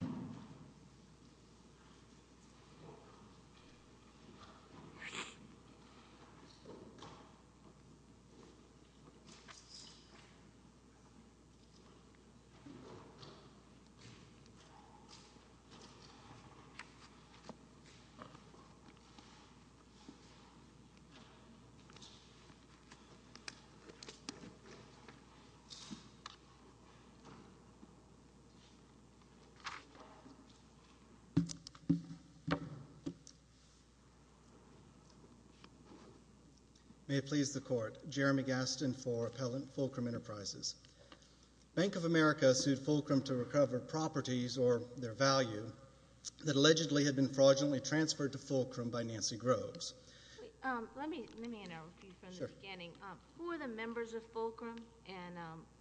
Fulcrum Enterprises, N.A. v. Fulcrum Enterprises, L.L. Gastin. May it please the Court, Jeremy Gastin for Appellant Fulcrum Enterprises. Bank of America sued Fulcrum to recover properties or their value that allegedly had been fraudulently transferred to Fulcrum by Nancy Groves. Let me interview you from the beginning. Who are the members of Fulcrum, and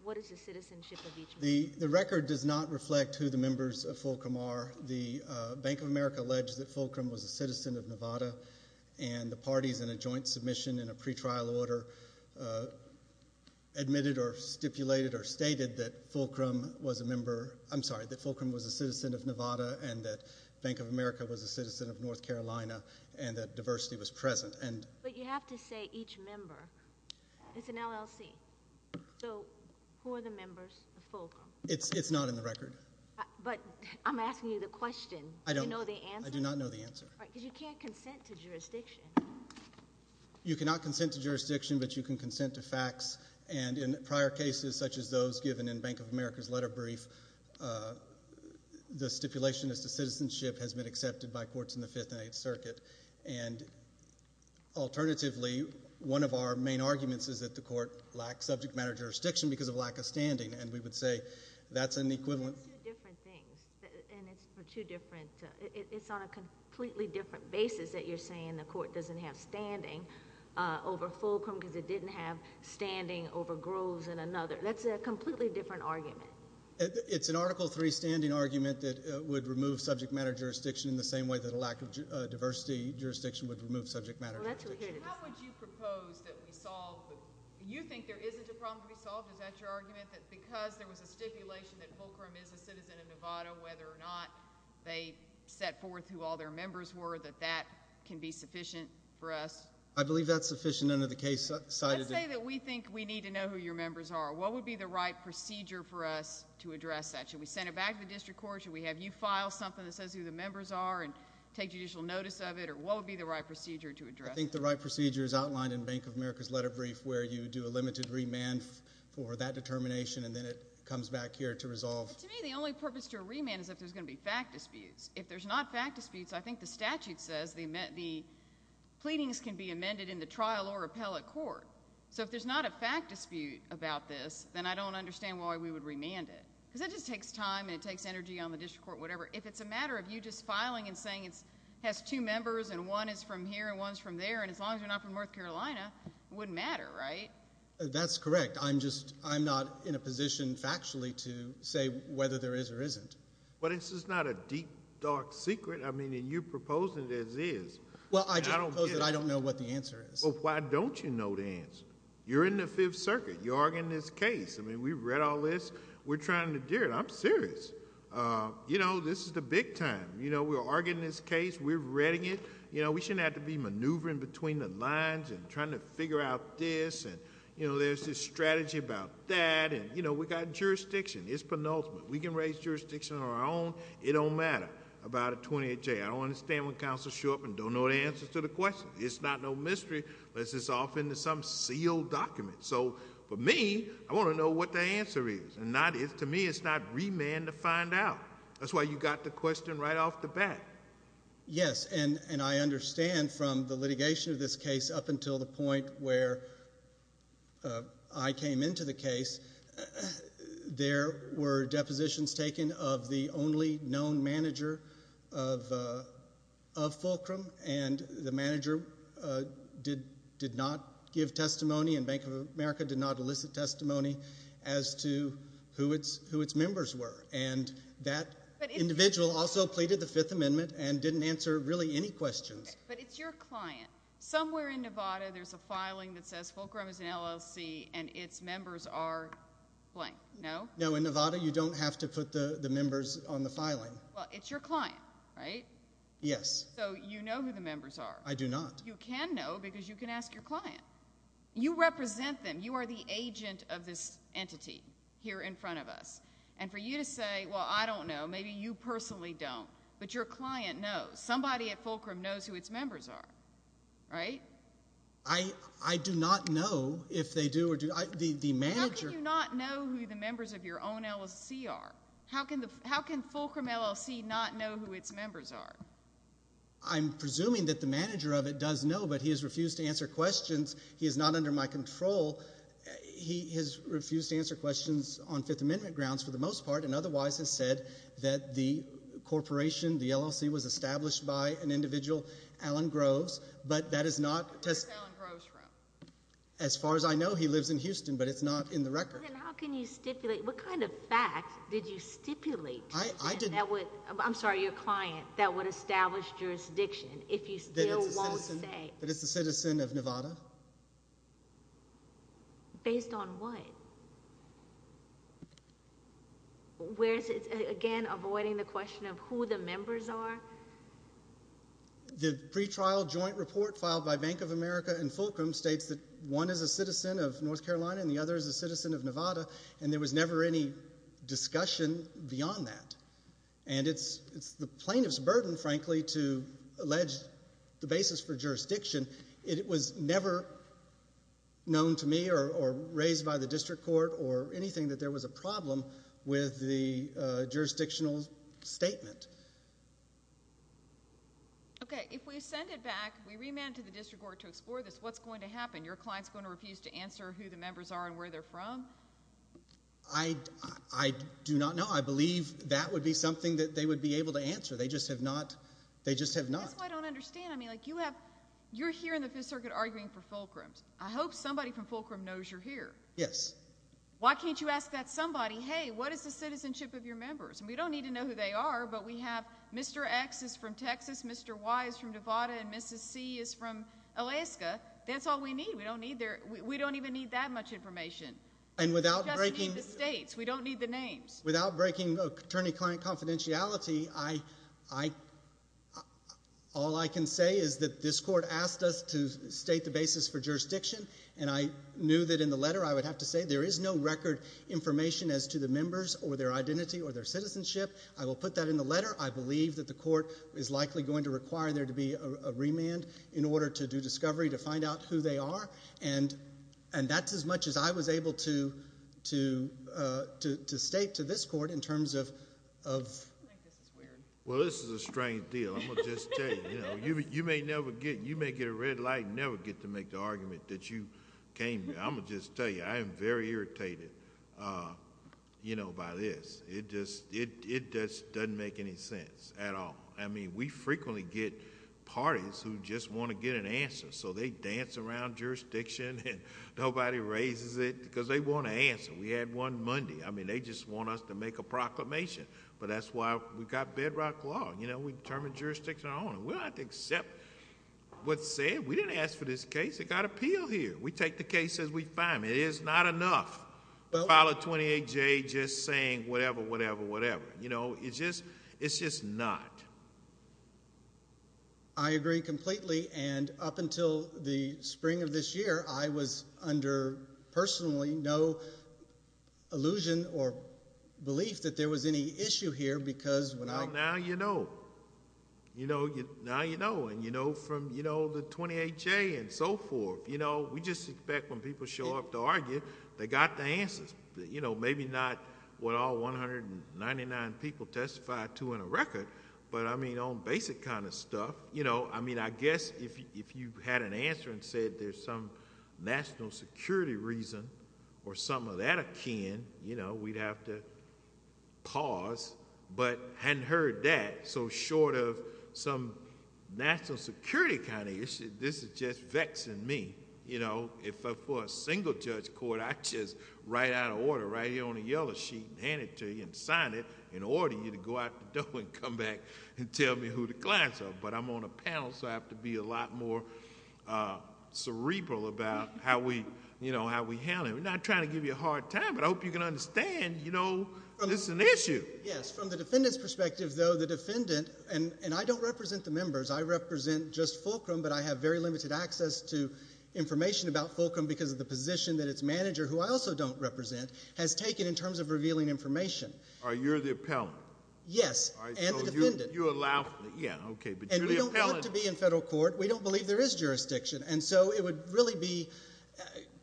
what is the citizenship of each member? The record does not reflect who the members of Fulcrum are. The Bank of America alleged that Fulcrum was a citizen of Nevada, and the parties in a joint submission in a pretrial order admitted or stipulated or stated that Fulcrum was a member, I'm sorry, that Fulcrum was a citizen of Nevada and that Bank of America was a citizen of North Carolina and that diversity was present. But you have to say each member. It's an LLC. So who are the members of Fulcrum? It's not in the record. But I'm asking you the question. Do you know the answer? I do not know the answer. Because you can't consent to jurisdiction. You cannot consent to jurisdiction, but you can consent to facts, and in prior cases such as those given in Bank of America's letter brief, the stipulation as to citizenship has been accepted by courts in the Fifth and Eighth Circuit, and alternatively, one of our main arguments is that the court lacked subject matter jurisdiction because of lack of standing, and we would say that's an equivalent. It's two different things, and it's for two different, it's on a completely different basis that you're saying the court doesn't have standing over Fulcrum because it didn't have standing over Groves and another. That's a completely different argument. It's an Article III standing argument that would remove subject matter jurisdiction in the same way that a lack of diversity jurisdiction would remove subject matter jurisdiction. How would you propose that we solve, you think there isn't a problem to be solved, is that your argument, that because there was a stipulation that Fulcrum is a citizen of Nevada, whether or not they set forth who all their members were, that that can be sufficient for us? I believe that's sufficient under the case cited in— Let's say that we think we need to know who your members are. What would be the right procedure for us to address that? Should we send it back to the district court? Should we have you file something that says who the members are and take judicial notice of it? What would be the right procedure to address that? I think the right procedure is outlined in Bank of America's letter brief where you do a limited remand for that determination and then it comes back here to resolve. But to me, the only purpose to remand is if there's going to be fact disputes. If there's not fact disputes, I think the statute says the pleadings can be amended in the trial or appellate court. So if there's not a fact dispute about this, then I don't understand why we would remand it. Because that just takes time and it takes energy on the district court, whatever. If it's a matter of you just filing and saying it has two members and one is from here and one's from there, and as long as you're not from North Carolina, it wouldn't matter, right? That's correct. I'm just—I'm not in a position factually to say whether there is or isn't. But it's just not a deep, dark secret. I mean, and you're proposing it as is. Well, I just propose that I don't know what the answer is. Well, why don't you know the answer? You're in the Fifth Circuit. You're arguing this case. I'm serious. You know, this is the big time. You know, we're arguing this case. We're reading it. You know, we shouldn't have to be maneuvering between the lines and trying to figure out this. And, you know, there's this strategy about that. And, you know, we've got jurisdiction. It's penultimate. We can raise jurisdiction on our own. It don't matter about a 28-J. I don't understand when counsel show up and don't know the answer to the question. It's not no mystery unless it's off into some sealed document. So for me, I want to know what the answer is. And to me, it's not remand to find out. That's why you got the question right off the bat. Yes. And I understand from the litigation of this case up until the point where I came into the case, there were depositions taken of the only known manager of Fulcrum. And the manager did not give testimony and Bank of America did not elicit testimony as to who its members were. And that individual also pleaded the Fifth Amendment and didn't answer really any questions. But it's your client. Somewhere in Nevada, there's a filing that says Fulcrum is an LLC and its members are blank. No? No. In Nevada, you don't have to put the members on the filing. Well, it's your client, right? Yes. So you know who the members are? I do not. You can know because you can ask your client. You represent them. You are the agent of this entity here in front of us. And for you to say, well, I don't know, maybe you personally don't, but your client knows. Somebody at Fulcrum knows who its members are, right? I do not know if they do or do not. The manager— How can you not know who the members of your own LLC are? How can Fulcrum LLC not know who its members are? I'm presuming that the manager of it does know, but he has refused to answer questions. He is not under my control. He has refused to answer questions on Fifth Amendment grounds for the most part, and otherwise has said that the corporation, the LLC, was established by an individual, Alan Groves, but that is not— Where is Alan Groves from? As far as I know, he lives in Houston, but it's not in the record. Well, then how can you stipulate? What kind of fact did you stipulate? I didn't— I'm sorry, your client, that would establish jurisdiction if you still won't say. That it's a citizen of Nevada? Based on what? Where is it, again, avoiding the question of who the members are? The pretrial joint report filed by Bank of America and Fulcrum states that one is a citizen of North Carolina and the other is a citizen of Nevada, and there was never any discussion beyond that. And it's the plaintiff's burden, frankly, to allege the basis for jurisdiction. It was never known to me or raised by the district court or anything that there was a problem with the jurisdictional statement. Okay, if we send it back, we remand it to the district court to explore this, what's going to happen? Your client's going to refuse to answer who the members are and where they're from? I do not know. I believe that would be something that they would be able to answer. They just have not— That's what I don't understand. I mean, like, you have—you're here in the Fifth Circuit arguing for Fulcrum. I hope somebody from Fulcrum knows you're here. Yes. Why can't you ask that somebody, hey, what is the citizenship of your members? And we don't need to know who they are, but we have Mr. X is from Texas, Mr. Y is from Nevada, and Mrs. C is from Alaska. That's all we need. We don't need their—we don't even need that much information. And without breaking— We just need the states. We don't need the names. Without breaking attorney-client confidentiality, I—all I can say is that this court asked us to state the basis for jurisdiction, and I knew that in the letter I would have to say there is no record information as to the members or their identity or their citizenship. I will put that in the letter. I believe that the court is likely going to require there to be a remand in order to do discovery to find out who they are, and that's as much as I was able to state to this court in terms of— I think this is weird. Well, this is a strange deal. I'm going to just tell you. You know, you may never get—you may get a red light and never get to make the argument that you came—I'm going to just tell you, I am very irritated, you know, by this. It just—it doesn't make any sense at all. I mean, we frequently get parties who just want to get an answer, so they dance around jurisdiction and nobody raises it because they want an answer. We had one Monday. I mean, they just want us to make a proclamation, but that's why we've got bedrock law. You know, we determine jurisdiction on our own. We don't have to accept what's said. We didn't ask for this case. It got appealed here. We take the case as we find it. It is not enough to file a 28-J just saying whatever, whatever, whatever. You know, it's just—it's just not. I agree completely, and up until the spring of this year, I was under, personally, no illusion or belief that there was any issue here because when I— Well, now you know. You know—now you know, and you know from, you know, the 28-J and so forth. You know, we just expect when people show up to argue, they got the answers. You know, maybe not what all 199 people testified to in a record, but, I mean, on basic kind of stuff, you know, I mean, I guess if you had an answer and said there's some national security reason or something of that akin, you know, we'd have to pause, but hadn't heard that, so short of some national security kind of issue, this is just vexing me. You know, I'm not just right out of order, right here on the yellow sheet and hand it to you and sign it and order you to go out the door and come back and tell me who the clients are, but I'm on a panel, so I have to be a lot more cerebral about how we, you know, how we handle it. We're not trying to give you a hard time, but I hope you can understand, you know, this is an issue. Yes. From the defendant's perspective, though, the defendant—and I don't represent the members. I represent just Fulcrum, but I have very limited access to information about Fulcrum because of the position that its manager, who I also don't represent, has taken in terms of revealing information. All right, you're the appellant. Yes, and the defendant. All right, so you allow—yeah, okay, but you're the appellant. And we don't want to be in federal court. We don't believe there is jurisdiction, and so it would really be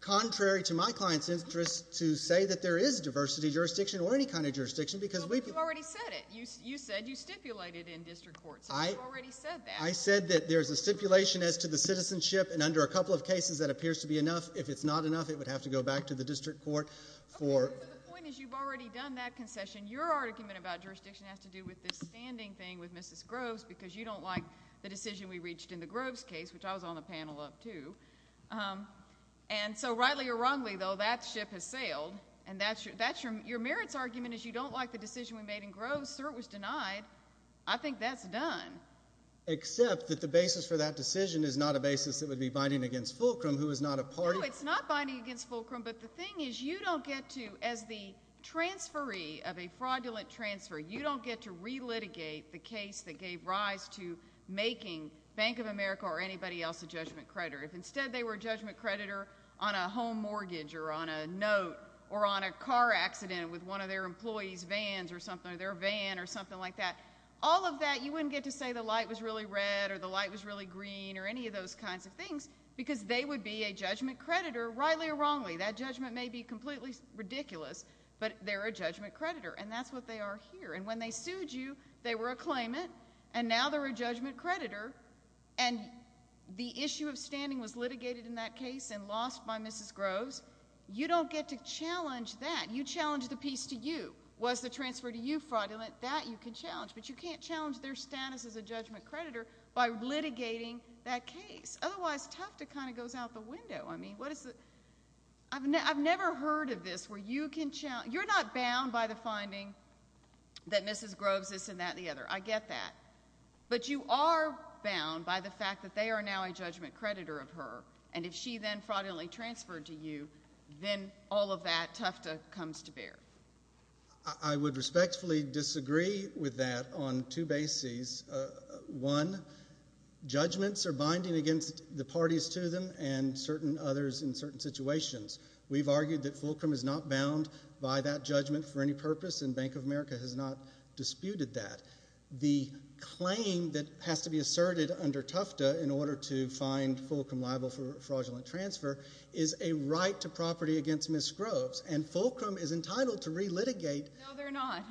contrary to my client's interest to say that there is diversity jurisdiction or any kind of jurisdiction because we— But you already said it. You said you stipulated in district court, so you already said that. If it's not enough, it would have to go back to the district court for— Okay, so the point is you've already done that concession. Your argument about jurisdiction has to do with this standing thing with Mrs. Groves because you don't like the decision we reached in the Groves case, which I was on the panel of, too. And so, rightly or wrongly, though, that ship has sailed, and that's your—your merits argument is you don't like the decision we made in Groves, so it was denied. I think that's done. Except that the basis for that decision is not a basis that would be binding against Fulcrum, who is not a party— No, it's not binding against Fulcrum, but the thing is you don't get to, as the transferee of a fraudulent transfer, you don't get to relitigate the case that gave rise to making Bank of America or anybody else a judgment creditor. If instead they were a judgment creditor on a home mortgage or on a note or on a car accident with one of their employees' vans or something or their van or something like that, all of that, you wouldn't get to say the light was really red or the light was really green or any of those kinds of things. They would be a judgment creditor, rightly or wrongly. That judgment may be completely ridiculous, but they're a judgment creditor, and that's what they are here. And when they sued you, they were a claimant, and now they're a judgment creditor, and the issue of standing was litigated in that case and lost by Mrs. Groves. You don't get to challenge that. You challenge the piece to you. Was the transfer to you fraudulent? That you can challenge, but you can't challenge their status as a judgment creditor by litigating that case. Otherwise, Tufta kind of goes out the window. I mean, what is the, I've never heard of this where you can challenge, you're not bound by the finding that Mrs. Groves this and that and the other. I get that. But you are bound by the fact that they are now a judgment creditor of her, and if she then fraudulently transferred to you, then all of that Tufta comes to bear. I would respectfully disagree with that on two bases. One, judgments are faced, the parties to them, and certain others in certain situations. We've argued that Fulcrum is not bound by that judgment for any purpose, and Bank of America has not disputed that. The claim that has to be asserted under Tufta in order to find Fulcrum liable for fraudulent transfer is a right to property against Mrs. Groves, and Fulcrum is entitled to relitigate. No, they're not.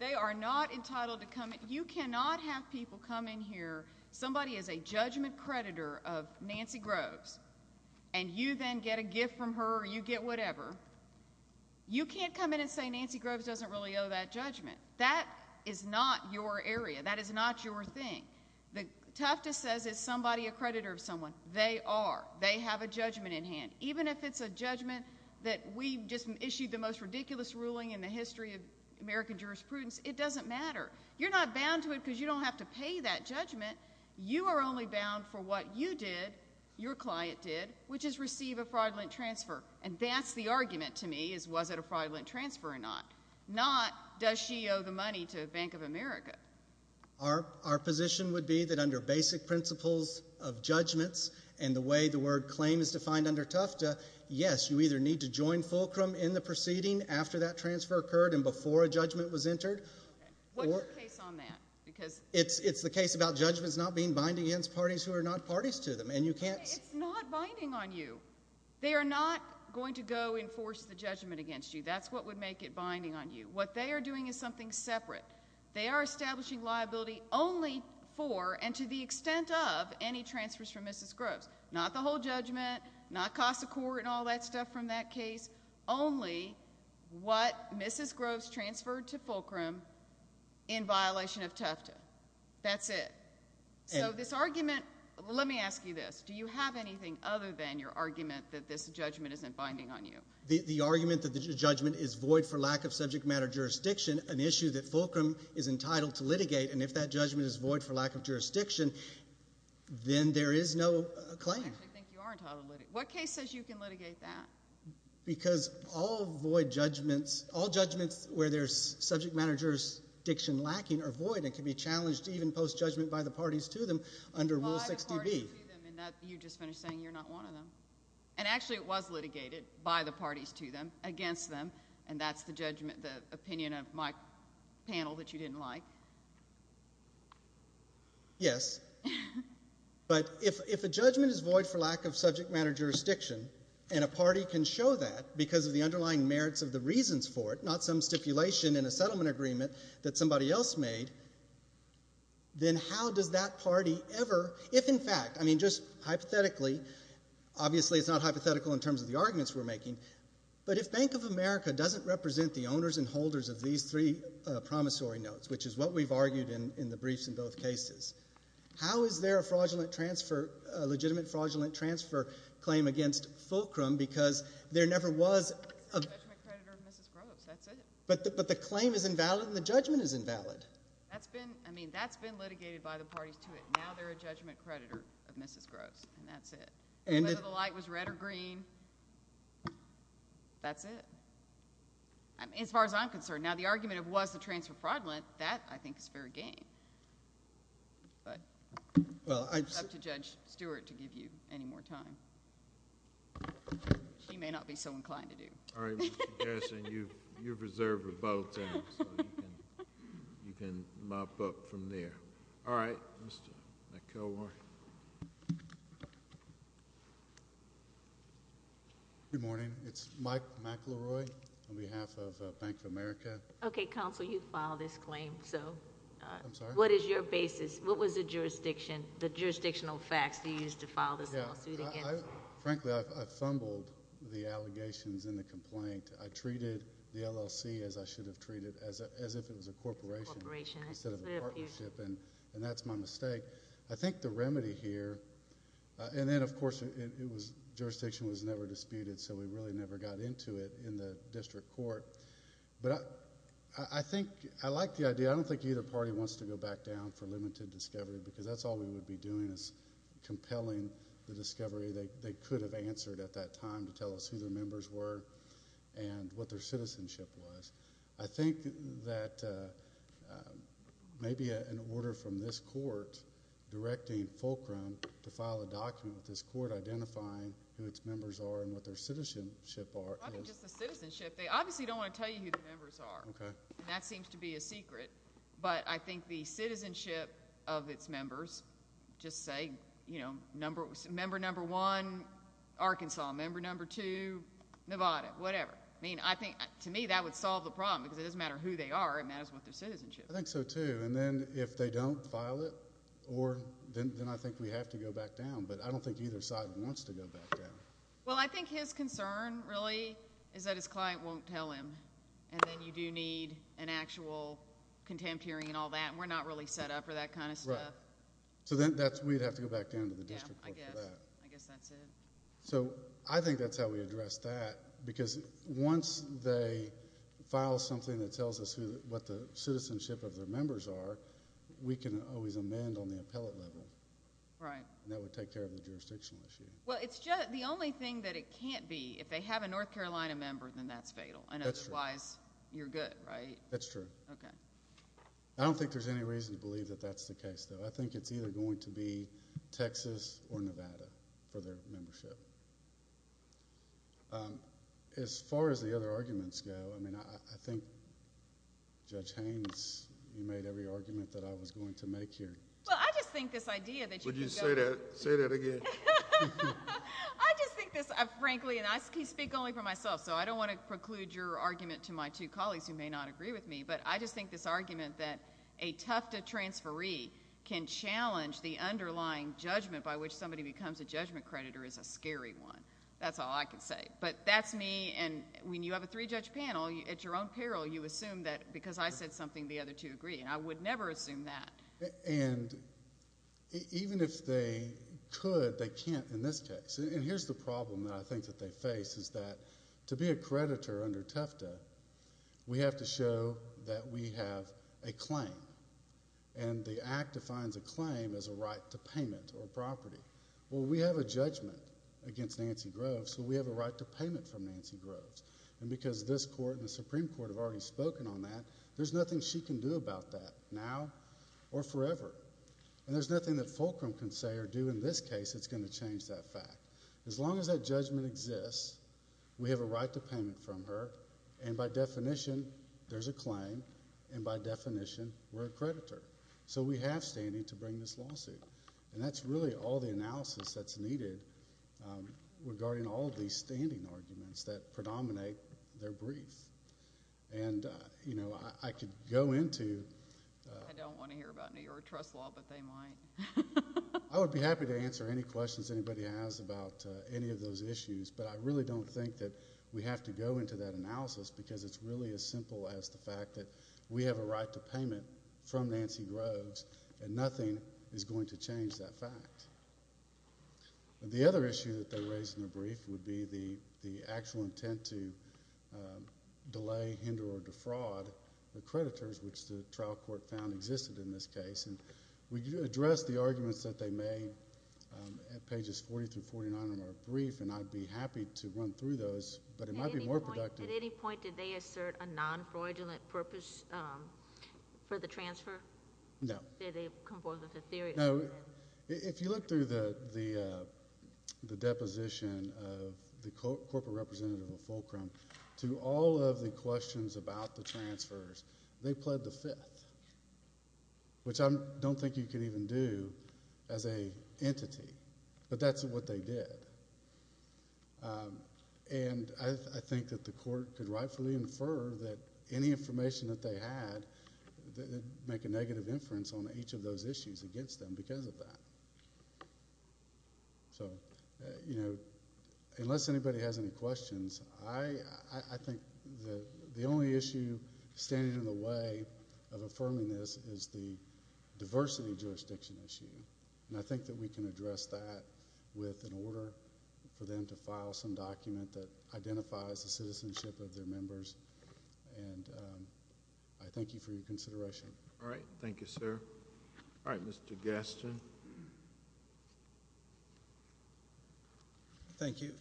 They are not entitled to come. You cannot have people come in here, somebody is a judgment creditor of Nancy Groves, and you then get a gift from her or you get whatever, you can't come in and say Nancy Groves doesn't really owe that judgment. That is not your area. That is not your thing. The Tufta says it's somebody, a creditor of someone. They are. They have a judgment in hand. Even if it's a judgment that we just issued the most ridiculous ruling in the history of American jurisprudence, it doesn't matter. You're not bound to it because you don't have to pay that judgment. You are only bound for what you did, your client did, which is receive a fraudulent transfer. And that's the argument to me is was it a fraudulent transfer or not. Not does she owe the money to Bank of America. Our position would be that under basic principles of judgments and the way the word claim is defined under Tufta, yes, you either need to join Fulcrum in the proceeding after that transfer occurred and before a judgment was entered. Okay. What's your case on that? It's the case about judgments not being binding against parties who are not parties to them. And you can't It's not binding on you. They are not going to go enforce the judgment against you. That's what would make it binding on you. What they are doing is something separate. They are establishing liability only for and to the extent of any transfers from Mrs. Groves transferred to Fulcrum in violation of Tufta. That's it. So this argument, let me ask you this. Do you have anything other than your argument that this judgment isn't binding on you? The argument that the judgment is void for lack of subject matter jurisdiction, an issue that Fulcrum is entitled to litigate, and if that judgment is void for lack of jurisdiction, then there is no claim. I actually think you are entitled to litigate. What case says you can litigate that? Because all void judgments, all judgments where there is subject matter jurisdiction lacking are void and can be challenged even post-judgment by the parties to them under Rule 6dB. By the parties to them, and you just finished saying you are not one of them. And actually it was litigated by the parties to them, against them, and that's the judgment, the opinion of my panel that you didn't like. Yes. But if a judgment is void for lack of subject matter jurisdiction and a party can show that because of the underlying merits of the reasons for it, not some stipulation in a settlement agreement that somebody else made, then how does that party ever, if in fact, I mean just hypothetically, obviously it's not hypothetical in terms of the arguments we're making, but if Bank of America doesn't represent the owners and holders of these three promissory notes, which is what we've argued in the briefs in both cases, how is there a fraudulent transfer, a legitimate fraudulent transfer claim against Fulcrum because there never was a... A judgment creditor of Mrs. Groves, that's it. But the claim is invalid and the judgment is invalid. That's been, I mean, that's been litigated by the parties to it. Now they're a judgment creditor of Mrs. Groves, and that's it. Whether the light was red or green, that's it. As far as I'm concerned, now the argument of was the transfer fraudulent, that I think is fair game, but it's up to Judge Stewart to give you any more time. She may not be so inclined to do. All right, Mr. Garrison, you've reserved a vote, so you can mop up from there. All right, Mr. McElroy. Good morning. It's Mike McElroy on behalf of Bank of America. Okay, counsel, you filed this claim, so... I'm sorry? What is your basis? What was the jurisdiction, the jurisdictional facts you used to file this lawsuit against? Frankly, I fumbled the allegations in the complaint. I treated the LLC as I should have treated, as if it was a corporation instead of a partnership, and that's my mistake. I think the remedy here, and then, of course, jurisdiction was never disputed, so we really never got into it in the district court, but I like the idea. I don't think either party wants to go back down for limited discovery, because that's all we would be doing is compelling the discovery they could have answered at that time to tell us who their members were and what their citizenship was. I think that maybe an order from this court directing Fulcrum to file a document with this court identifying who its members are and what their citizenship are is... Not just the citizenship. They obviously don't want to tell you who the members are. Okay. That seems to be a secret, but I think the citizenship of its members, just say, you know, whatever. I mean, to me, that would solve the problem, because it doesn't matter who they are. It matters what their citizenship is. I think so, too, and then if they don't file it, then I think we have to go back down, but I don't think either side wants to go back down. Well, I think his concern, really, is that his client won't tell him, and then you do need an actual contempt hearing and all that, and we're not really set up for that kind of stuff. Right. So then we'd have to go back down to the district court for that. Yeah, I guess that's it. So I think that's how we address that, because once they file something that tells us what the citizenship of their members are, we can always amend on the appellate level. Right. And that would take care of the jurisdictional issue. Well, it's just, the only thing that it can't be, if they have a North Carolina member, then that's fatal. That's true. And otherwise, you're good, right? That's true. Okay. I don't think there's any reason to believe that that's the case, though. I think it's either going to be Texas or Nevada for their membership. As far as the other arguments go, I mean, I think Judge Haynes, you made every argument that I was going to make here. Well, I just think this idea that you can go— Would you say that again? I just think this, frankly, and I speak only for myself, so I don't want to preclude your argument to my two colleagues who may not agree with me, but I just think this argument that a Tufta transferee can challenge the underlying judgment by which somebody becomes a judgment creditor is a scary one. That's all I can say. But that's me, and when you have a three-judge panel, at your own peril, you assume that because I said something, the other two agree. And I would never assume that. And even if they could, they can't in this case. And here's the problem that I think that they face is that to be a creditor under Tufta, we have to show that we have a claim. And the Act defines a claim as a right to payment or property. Well, we have a judgment against Nancy Groves, so we have a right to payment from Nancy Groves. And because this Court and the Supreme Court have already spoken on that, there's nothing she can do about that now or forever. And there's nothing that Fulcrum can say or do in this case that's going to change that fact. As long as that judgment exists, we have a right to payment from her. And by definition, there's a claim. And by definition, we're a creditor. So we have standing to bring this lawsuit. And that's really all the analysis that's needed regarding all of these standing arguments that predominate their brief. And, you know, I could go into the... I don't want to hear about New York trust law, but they might. I would be happy to answer any questions anybody has about any of those issues, but I really don't think that we have to go into that analysis because it's really as simple as the fact that we have a right to payment from Nancy Groves, and nothing is going to change that fact. The other issue that they raised in their brief would be the actual intent to delay, hinder, or defraud the creditors, which the trial court found existed in this case. And we addressed the arguments that they made at pages 40 through 49 of our brief, and I'd be happy to run through those, but it might be more productive. At any point did they assert a non-fraudulent purpose for the transfer? No. Did they come forward with a theory? No. If you look through the deposition of the corporate representative of Fulcrum, to all of the questions about the transfers, they pled the fifth, which I don't think you could even do as an entity. But that's what they did. And I think that the court could rightfully infer that any information that they had would make a negative inference on each of those issues against them because of that. So, you know, unless anybody has any questions, I think the only issue standing in the way of affirming this is the diversity jurisdiction issue, and I think that we can address that with an order for them to file some document that identifies the citizenship of their members. And I thank you for your consideration. All right. Thank you, sir. All right, Mr. Gaston. Thank you.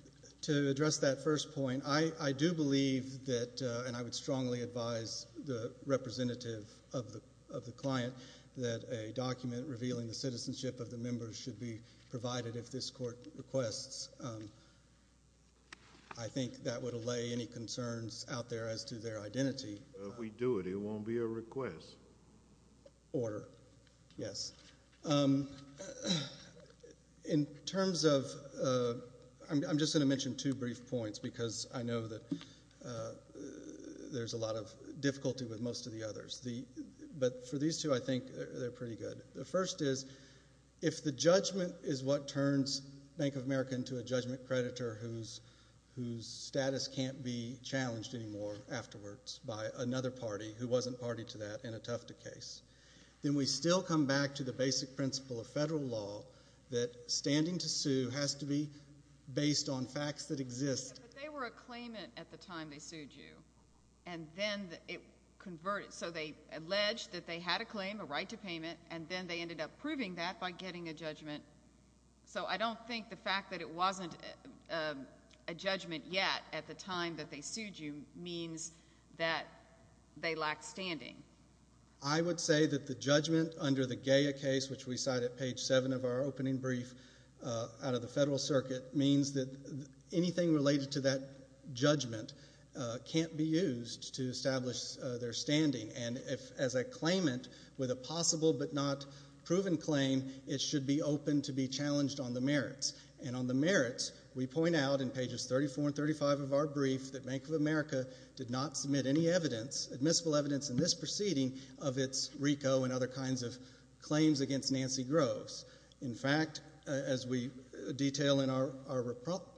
To address that first point, I do believe that, and I would strongly advise the representative of the client, that a document revealing the citizenship of the members should be provided if this court requests. I think that would allay any concerns out there as to their identity. If we do it, it won't be a request. Order. Yes. In terms of, I'm just going to mention two brief points because I know that there's a lot of difficulty with most of the others. But for these two, I think they're pretty good. The first is, if the judgment is what turns Bank of America into a judgment creditor whose status can't be challenged anymore afterwards by another party who wasn't party to that in a Tufta case, then we still come back to the basic principle of federal law that standing to sue has to be based on facts that exist. But they were a claimant at the time they sued you, and then it converted. So they alleged that they had a claim, a right to payment, and then they ended up proving that by getting a judgment. So I don't think the fact that it wasn't a judgment yet at the time that they sued you means that they lacked standing. I would say that the judgment under the Gaya case, which we cite at page 7 of our opening brief out of the Federal Circuit, means that anything related to that judgment can't be used to establish their standing. And as a claimant with a possible but not proven claim, it should be open to be challenged on the merits. And on the merits, we point out in pages 34 and 35 of our brief that Bank of America did not submit any evidence, admissible evidence in this proceeding of its RICO and other kinds of claims against Nancy Groves. In fact, as we detail in our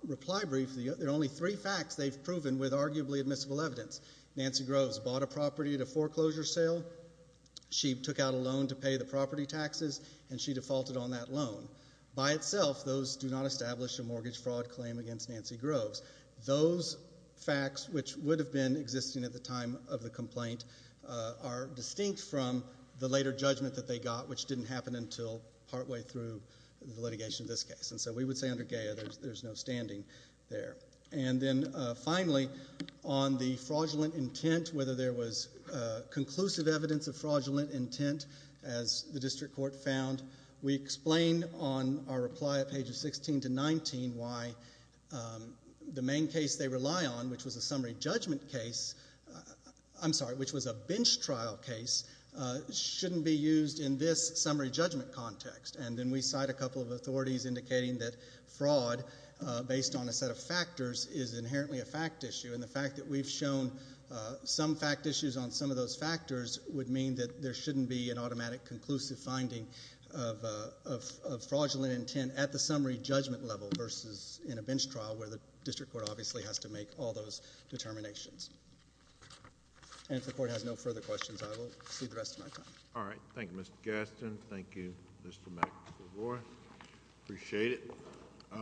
reply brief, there are only three facts they've proven with arguably admissible evidence. Nancy Groves bought a property at a foreclosure sale. She took out a loan to pay the property taxes, and she defaulted on that loan. By itself, those do not establish a mortgage fraud claim against Nancy Groves. Those facts, which would have been existing at the time of the complaint, are distinct from the later judgment that they got, which didn't happen until partway through the litigation of this case. And so we would say under Gaya there's no standing there. And then finally, on the fraudulent intent, whether there was conclusive evidence of fraudulent intent, as the district court found, we explain on our reply at pages 16 to 19 why the main case they rely on, which was a summary judgment case, I'm sorry, which was a bench trial case, shouldn't be used in this summary judgment context. And then we cite a couple of authorities indicating that fraud, based on a set of factors, is inherently a fact issue. And the fact that we've shown some fact issues on some of those factors would mean that there shouldn't be an automatic conclusive finding of fraudulent intent at the summary judgment level versus in a bench trial where the district court obviously has to make all those determinations. And if the Court has no further questions, I will cede the rest of my time. All right. Thank you, Mr. Gaston. Thank you, Mr. McElroy. Appreciate it.